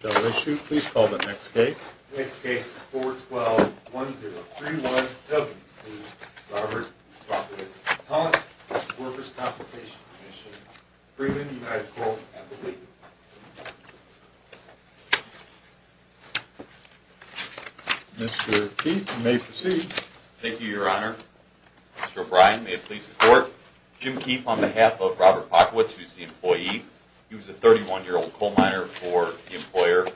The next case is 4121031 W.C. Robert Bockewitz v. Workers' Compensation Comm'n, Freeman, United Quarters, Appalachia. Mr. Keefe, you may proceed. Thank you, Your Honor. Mr. O'Brien, may it please the Court. Jim Keefe on behalf of Robert Bockewitz, who is the employee. He was a 31-year-old coal miner for the employer.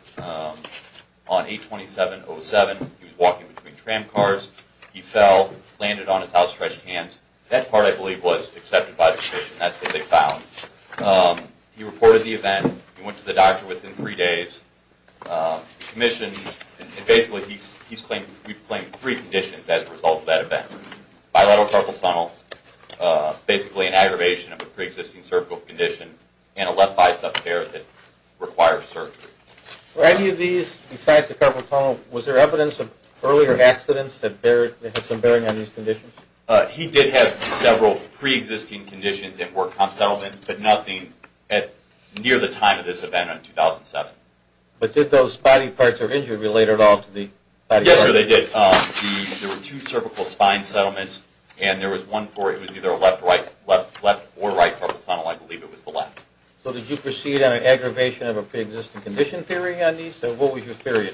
On 8-27-07, he was walking between tram cars. He fell, landed on his house, stretched hands. That part, I believe, was accepted by the Commission. That's what they found. He reported the event. He went to the doctor within three days. Commission, and basically he's claimed three conditions as a result of that event. Bilateral carpal tunnel, basically an aggravation of a pre-existing cervical condition. And a left bicep tear that requires surgery. Were any of these, besides the carpal tunnel, was there evidence of earlier accidents that had some bearing on these conditions? He did have several pre-existing conditions and work comp settlements, but nothing near the time of this event in 2007. But did those body parts or injury relate at all to the body parts? Yes, sir, they did. There were two cervical spine settlements, and there was one where it was either a left or right carpal tunnel. I believe it was the left. So did you proceed on an aggravation of a pre-existing condition theory on these? What was your theory?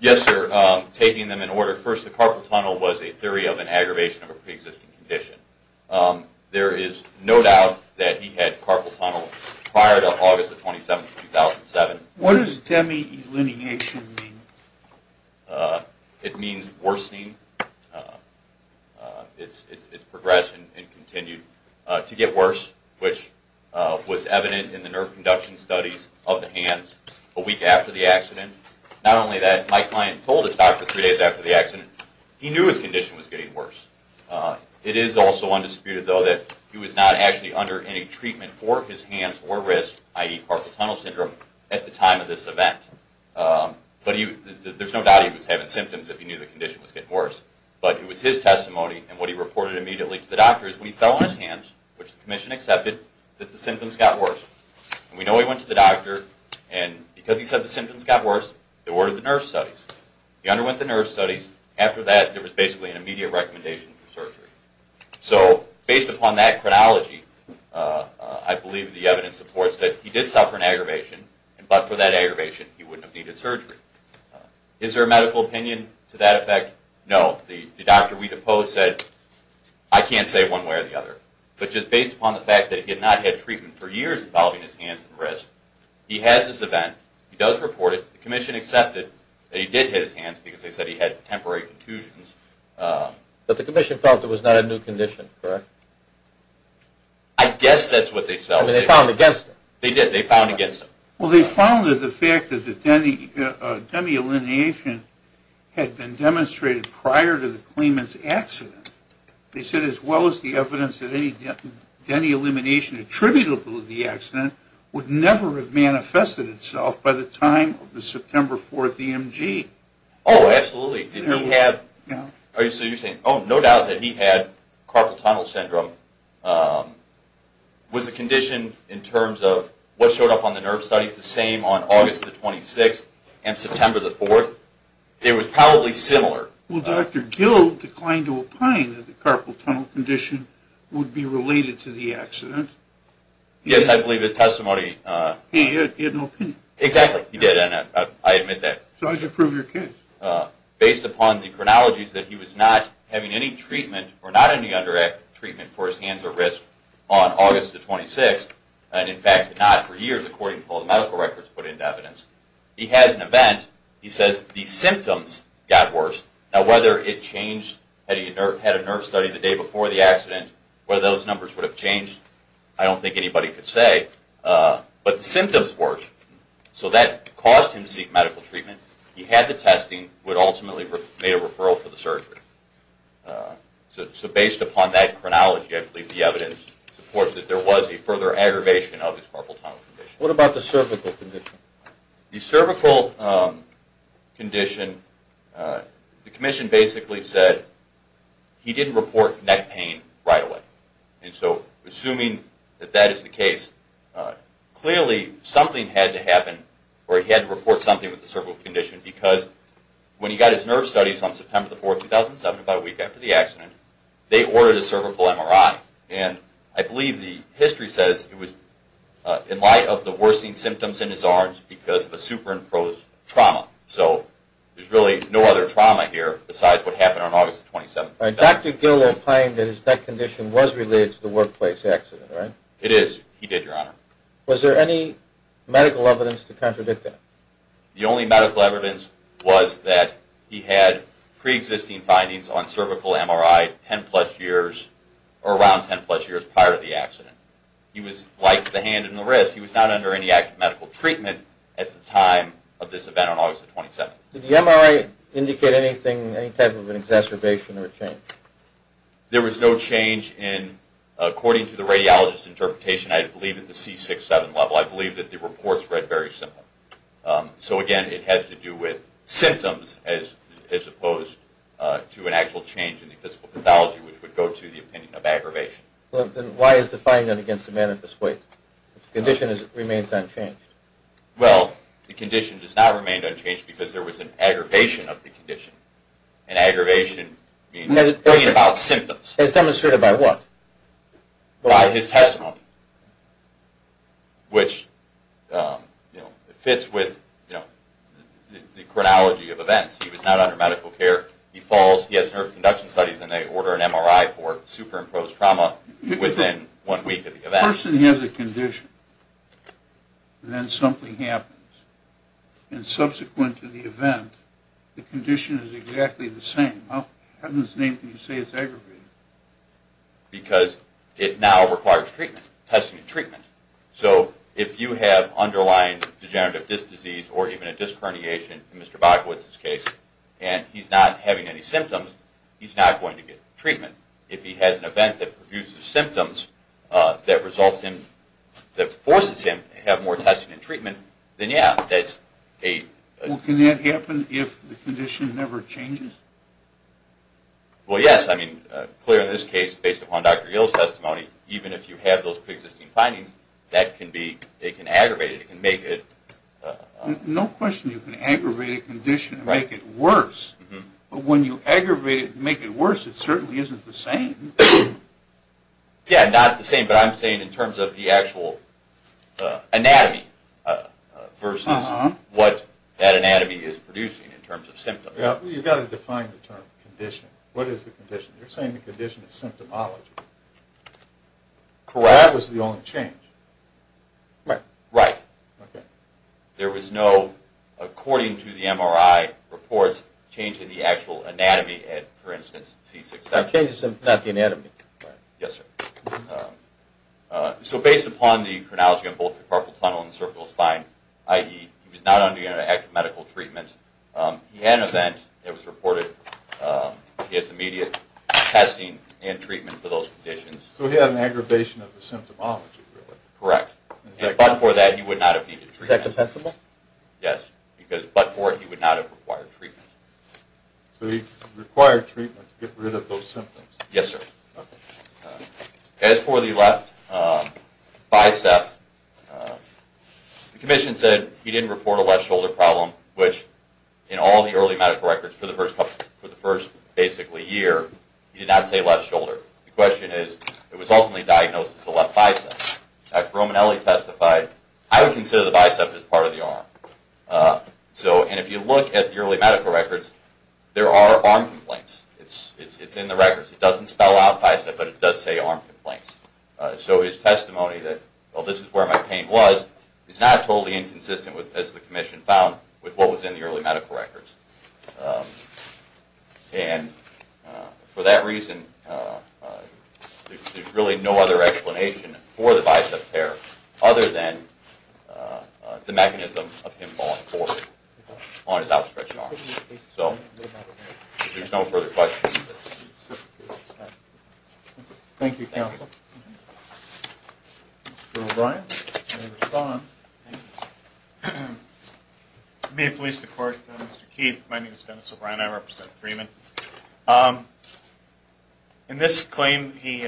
Yes, sir, taking them in order. First, the carpal tunnel was a theory of an aggravation of a pre-existing condition. There is no doubt that he had carpal tunnel prior to August 27, 2007. What does demyelination mean? It means worsening. It's progression and continued to get worse, which was evident in the nerve conduction studies of the hands a week after the accident. Not only that, my client told his doctor three days after the accident he knew his condition was getting worse. It is also undisputed, though, that he was not actually under any treatment for his hands or wrists, i.e. carpal tunnel syndrome, at the time of this event. There is no doubt he was having symptoms if he knew the condition was getting worse, but it was his testimony, and what he reported immediately to the doctor is when he fell on his hands, which the commission accepted, that the symptoms got worse. We know he went to the doctor, and because he said the symptoms got worse, they ordered the nerve studies. He underwent the nerve studies. After that, there was basically an immediate recommendation for surgery. So based upon that chronology, I believe the evidence supports that he did suffer an aggravation, but for that aggravation, he wouldn't have needed surgery. Is there a medical opinion to that effect? No. The doctor we deposed said, I can't say one way or the other, but just based upon the fact that he had not had treatment for years involving his hands and wrists, he has this event. He does report it. The commission accepted that he did hit his hands because they said he had temporary contusions. But the commission felt it was not a new condition, correct? I guess that's what they felt. I mean, they found against it. They did. They found against it. Well, they found that the fact that the demi-elimination had been demonstrated prior to the claimant's accident, they said as well as the evidence that any demi-elimination attributable to the accident would never have manifested itself by the time of the September 4th EMG. Oh, absolutely. So you're saying, oh, no doubt that he had carpal tunnel syndrome. Was the condition in terms of what showed up on the nerve studies the same on August the 26th and September the 4th? It was probably similar. Well, Dr. Gill declined to opine that the carpal tunnel condition would be related to the accident. Yes, I believe his testimony. He had no opinion. Exactly. He did, and I admit that. So how did you prove your case? Based upon the chronologies that he was not having any treatment or not any indirect treatment for his hands or wrists on August the 26th, and in fact not for years according to all the medical records put into evidence. He has an event. He says the symptoms got worse. Now, whether it changed, had he had a nerve study the day before the accident, whether those numbers would have changed, I don't think anybody could say. But the symptoms worked. So that caused him to seek medical treatment. He had the testing but ultimately made a referral for the surgery. So based upon that chronology, I believe the evidence supports that there was a further aggravation of his carpal tunnel condition. What about the cervical condition? The cervical condition, the commission basically said he didn't report neck pain right away. And so assuming that that is the case, clearly something had to happen or he had to report something with the cervical condition because when he got his nerve studies on September the 4th, 2007, about a week after the accident, they ordered a cervical MRI. And I believe the history says it was in light of the worsening symptoms in his arms because of a superimposed trauma. So there's really no other trauma here besides what happened on August the 27th. All right. Dr. Gil will claim that his neck condition was related to the workplace accident, right? It is. He did, Your Honor. Was there any medical evidence to contradict that? The only medical evidence was that he had preexisting findings on cervical MRI 10-plus years or around 10-plus years prior to the accident. He was light at the hand and the wrist. He was not under any active medical treatment at the time of this event on August the 27th. Did the MRI indicate anything, any type of exacerbation or change? There was no change in, according to the radiologist's interpretation, I believe at the C6-7 level. I believe that the report's read very simply. So, again, it has to do with symptoms as opposed to an actual change in the physical pathology, which would go to the opinion of aggravation. Well, then why is the finding against the manifest weight? The condition remains unchanged. Well, the condition does not remain unchanged because there was an aggravation of the condition. An aggravation bringing about symptoms. As demonstrated by what? By his testimony, which fits with the chronology of events. He was not under medical care. He falls, he has nerve conduction studies, and they order an MRI for superimposed trauma within one week of the event. A person has a condition, and then something happens. And subsequent to the event, the condition is exactly the same. How in heaven's name can you say it's aggravated? Because it now requires treatment, testing and treatment. So if you have underlying degenerative disc disease or even a disc herniation, in Mr. Bakowitz's case, and he's not having any symptoms, he's not going to get treatment. If he has an event that produces symptoms that results in, that forces him to have more testing and treatment, then yeah, that's a... Well, can that happen if the condition never changes? Well, yes. I mean, clear in this case, based upon Dr. Yale's testimony, even if you have those preexisting findings, that can be, it can aggravate it. It can make it... No question you can aggravate a condition and make it worse. But when you aggravate it and make it worse, it certainly isn't the same. Yeah, not the same, but I'm saying in terms of the actual anatomy versus what that anatomy is producing in terms of symptoms. Well, you've got to define the term condition. What is the condition? You're saying the condition is symptomology. Carat was the only change. Right. Correct. Okay. There was no, according to the MRI reports, change in the actual anatomy at, for instance, C6.7. Not the anatomy. Yes, sir. So based upon the chronology of both the carpal tunnel and cervical spine, i.e., he was not undergoing an active medical treatment. He had an event that was reported. He has immediate testing and treatment for those conditions. So he had an aggravation of the symptomology, really. Correct. But for that, he would not have needed treatment. Is that compensable? Yes, because but for it, he would not have required treatment. So he required treatment to get rid of those symptoms. Yes, sir. Okay. As for the left bicep, the commission said he didn't report a left shoulder problem, which in all the early medical records for the first basically year, he did not say left shoulder. The question is, it was ultimately diagnosed as a left bicep. After Romanelli testified, I would consider the bicep as part of the arm. And if you look at the early medical records, there are arm complaints. It's in the records. It doesn't spell out bicep, but it does say arm complaints. So his testimony that, well, this is where my pain was, is not totally inconsistent, as the commission found, with what was in the early medical records. And for that reason, there's really no other explanation for the bicep tear other than the mechanism of him falling forward on his outstretched arm. So if there's no further questions. Thank you, counsel. May it please the court, Mr. Keith. My name is Dennis O'Brien. I represent Freeman. In this claim, he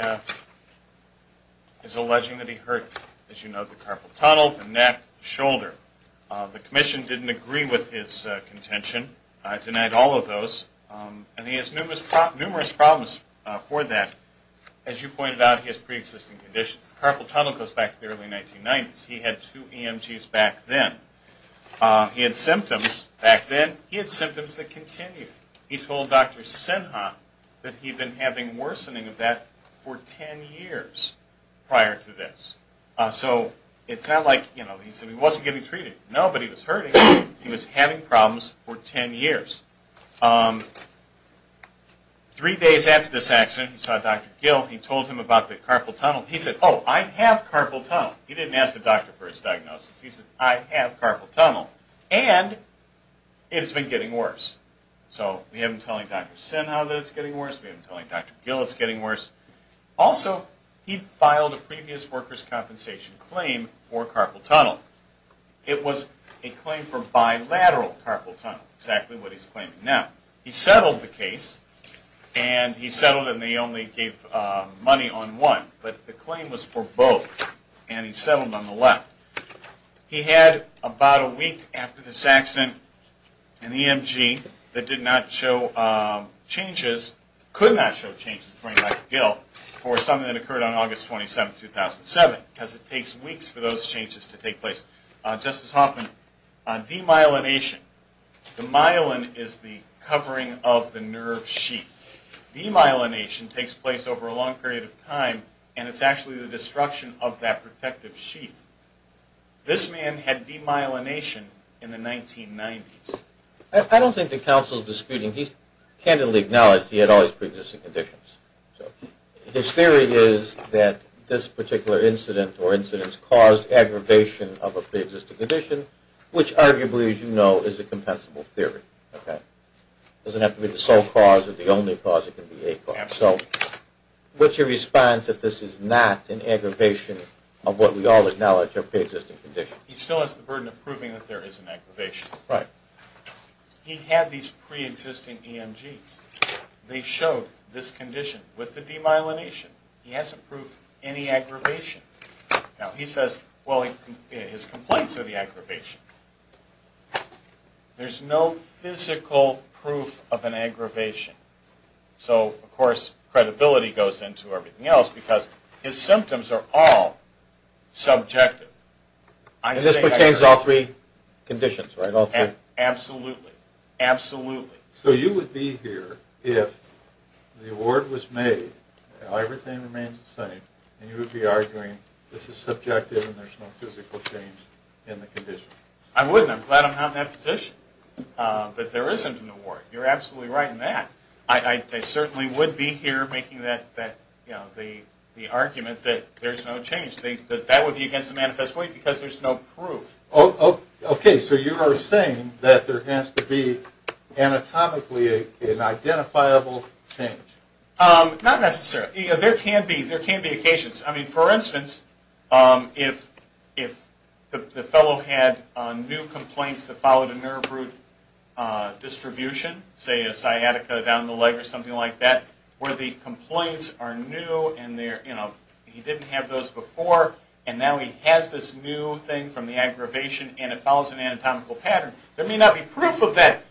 is alleging that he hurt, as you know, the carpal tunnel, the neck, shoulder. The commission didn't agree with his contention, denied all of those, and he has numerous problems for that. As you pointed out, he has preexisting conditions. The carpal tunnel goes back to the early 1990s. He had two EMGs back then. He had symptoms back then. He had symptoms that continued. He told Dr. Sinha that he'd been having worsening of that for 10 years prior to this. So it's not like, you know, he said he wasn't getting treated. No, but he was hurting. He was having problems for 10 years. Three days after this accident, he saw Dr. Gill. He told him about the carpal tunnel. He said, oh, I have carpal tunnel. He didn't ask the doctor for his diagnosis. He said, I have carpal tunnel, and it has been getting worse. So we have him telling Dr. Sinha that it's getting worse. We have him telling Dr. Gill it's getting worse. Also, he filed a previous workers' compensation claim for carpal tunnel. It was a claim for bilateral carpal tunnel, exactly what he's claiming now. He settled the case, and he settled it, and they only gave money on one. But the claim was for both, and he settled on the left. He had about a week after this accident, an EMG that did not show changes, could not show changes to Dr. Gill for something that occurred on August 27, 2007, because it takes weeks for those changes to take place. Justice Hoffman, demyelination. Demyelination is the covering of the nerve sheath. Demyelination takes place over a long period of time, and it's actually the destruction of that protective sheath. This man had demyelination in the 1990s. I don't think the counsel is disputing. He candidly acknowledged he had all his preexisting conditions. His theory is that this particular incident or incidents caused aggravation of a preexisting condition, which arguably, as you know, is a compensable theory. It doesn't have to be the sole cause or the only cause. So what's your response if this is not an aggravation of what we all acknowledge are preexisting conditions? He still has the burden of proving that there is an aggravation. He had these preexisting EMGs. They showed this condition with the demyelination. He hasn't proved any aggravation. Now, he says his complaints are the aggravation. There's no physical proof of an aggravation. So, of course, credibility goes into everything else because his symptoms are all subjective. And this pertains to all three conditions, right? Absolutely. Absolutely. So you would be here if the award was made, everything remains the same, and you would be arguing this is subjective and there's no physical change in the condition? I wouldn't. I'm glad I'm not in that position. But there isn't an award. You're absolutely right in that. I certainly would be here making the argument that there's no change, that that would be against the manifest way because there's no proof. Okay, so you are saying that there has to be anatomically an identifiable change. Not necessarily. There can be occasions. I mean, for instance, if the fellow had new complaints that followed a nerve root distribution, say a sciatica down the leg or something like that, where the complaints are new and he didn't have those before, and now he has this new thing from the aggravation and it follows an anatomical pattern, there may not be proof of that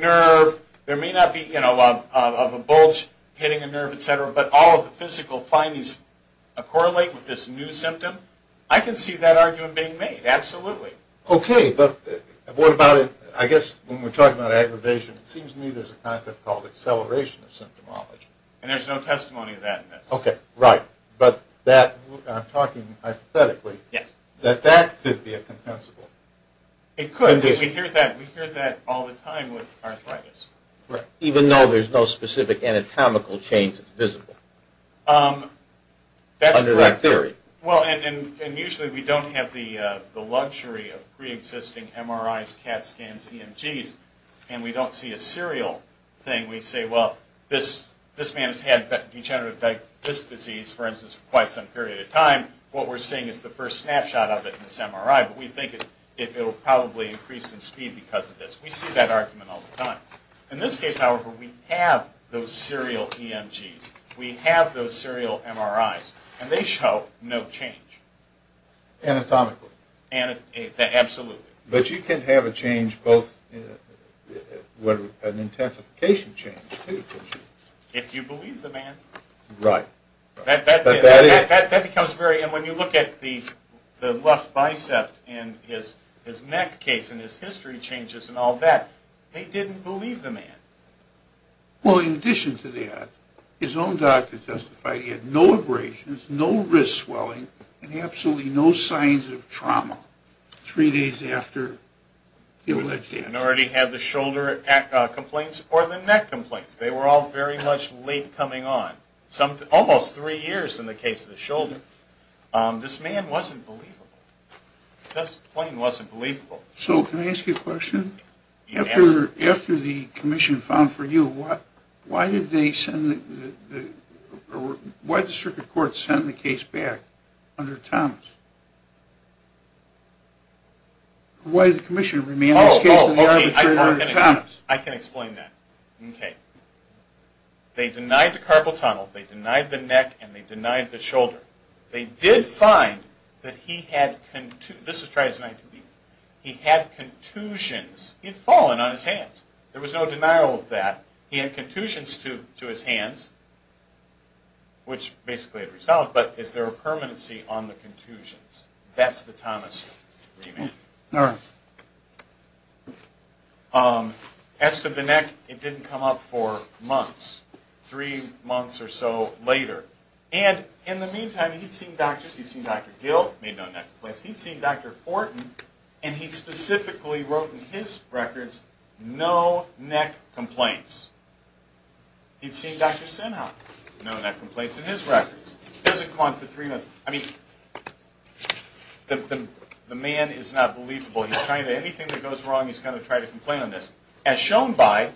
nerve, there may not be a bulge hitting a nerve, etc., but all of the physical findings correlate with this new symptom, I can see that argument being made, absolutely. Okay, but what about, I guess, when we're talking about aggravation, it seems to me there's a concept called acceleration of symptomology. And there's no testimony to that in this. Okay, right. But that, I'm talking hypothetically, that that could be a compensable. It could. We hear that all the time with arthritis. Even though there's no specific anatomical change that's visible, under that theory. Well, and usually we don't have the luxury of preexisting MRIs, CAT scans, EMGs, and we don't see a serial thing. We say, well, this man has had degenerative disc disease, for instance, for quite some period of time. What we're seeing is the first snapshot of it in this MRI, but we think it will probably increase in speed because of this. We see that argument all the time. In this case, however, we have those serial EMGs. We have those serial MRIs. And they show no change. Anatomically. Absolutely. But you can have a change both, an intensification change, too, can't you? If you believe the man. Right. That becomes very, and when you look at the left bicep and his neck case and his history changes and all that, they didn't believe the man. Well, in addition to that, his own doctor justified he had no abrasions, no wrist swelling, and absolutely no signs of trauma three days after the alleged accident. He already had the shoulder complaints or the neck complaints. They were all very much late coming on, almost three years in the case of the shoulder. This man wasn't believable. Just plain wasn't believable. So can I ask you a question? Yes. After the commission found for you, why did they send the, why did the circuit court send the case back under Thomas? Why did the commission remain in this case under Thomas? I can explain that. Okay. They denied the carpal tunnel, they denied the neck, and they denied the shoulder. They did find that he had, this was tried as an ITB, he had contusions. He had fallen on his hands. There was no denial of that. He had contusions to his hands, which basically had resolved, but is there a permanency on the contusions? That's the Thomas remand. All right. As to the neck, it didn't come up for months, three months or so later. And in the meantime, he'd seen doctors. He'd seen Dr. Gill, made no neck complaints. He'd seen Dr. Fortin, and he specifically wrote in his records, no neck complaints. He'd seen Dr. Sinha, no neck complaints in his records. He doesn't come on for three months. I mean, the man is not believable. He's trying to, anything that goes wrong, he's going to try to complain on this. As shown by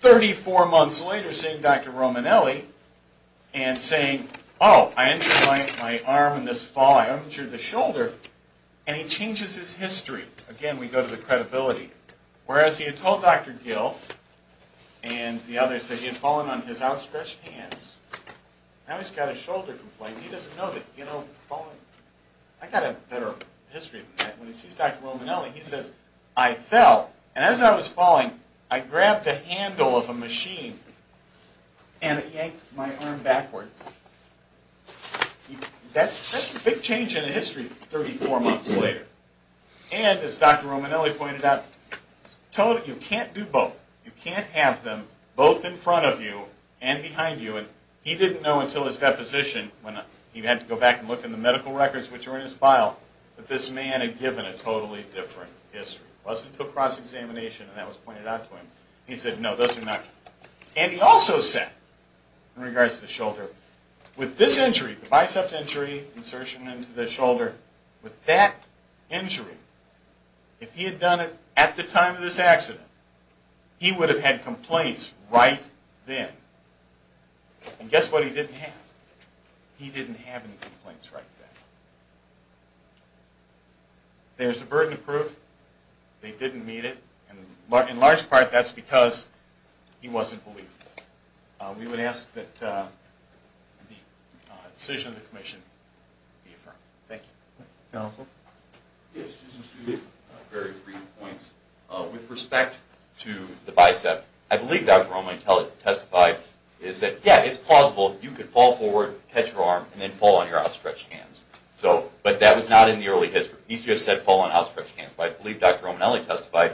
34 months later seeing Dr. Romanelli and saying, oh, I injured my arm in this fall, I injured the shoulder, and he changes his history. Again, we go to the credibility. Whereas he had told Dr. Gill and the others that he had fallen on his outstretched hands, now he's got a shoulder complaint. He doesn't know that he had fallen. I've got a better history than that. When he sees Dr. Romanelli, he says, I fell. And as I was falling, I grabbed the handle of a machine and yanked my arm backwards. That's a big change in history 34 months later. And as Dr. Romanelli pointed out, you can't do both. You can't have them both in front of you and behind you. And he didn't know until his deposition when he had to go back and look in the medical records, which are in his file, that this man had given a totally different history. It wasn't to a cross-examination, and that was pointed out to him. He said, no, those are not. And he also said, in regards to the shoulder, with this injury, the bicep injury, insertion into the shoulder, with that injury, if he had done it at the time of this accident, he would have had complaints right then. And guess what he didn't have? He didn't have any complaints right then. There's a burden of proof. They didn't mean it. In large part, that's because he wasn't believable. We would ask that the decision of the commission be affirmed. Thank you. Counsel? Yes, just to make very brief points. With respect to the bicep, I believe Dr. Romanelli testified, is that, yeah, it's plausible. You could fall forward, catch your arm, and then fall on your outstretched hands. But that was not in the early history. He just said fall on outstretched hands. But I believe Dr. Romanelli testified,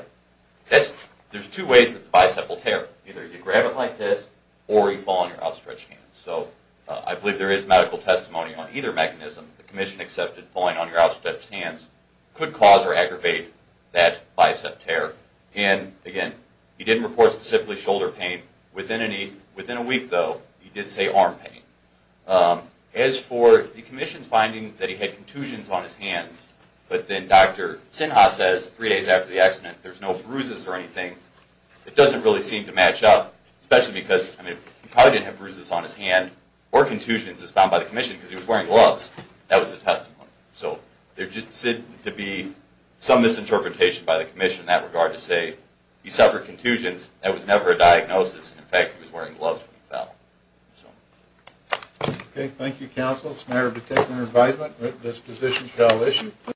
there's two ways that the bicep will tear. Either you grab it like this, or you fall on your outstretched hands. So I believe there is medical testimony on either mechanism. The commission accepted falling on your outstretched hands could cause or aggravate that bicep tear. And, again, he didn't report specifically shoulder pain. Within a week, though, he did say arm pain. As for the commission's finding that he had contusions on his hand, but then Dr. Sinha says three days after the accident there's no bruises or anything, it doesn't really seem to match up, especially because he probably didn't have bruises on his hand or contusions, as found by the commission, because he was wearing gloves. That was the testimony. So there just seemed to be some misinterpretation by the commission in that regard to say he suffered contusions. That was never a diagnosis. In fact, he was wearing gloves when he fell. Thank you, counsel. It's a matter of particular advisement. This position shall issue.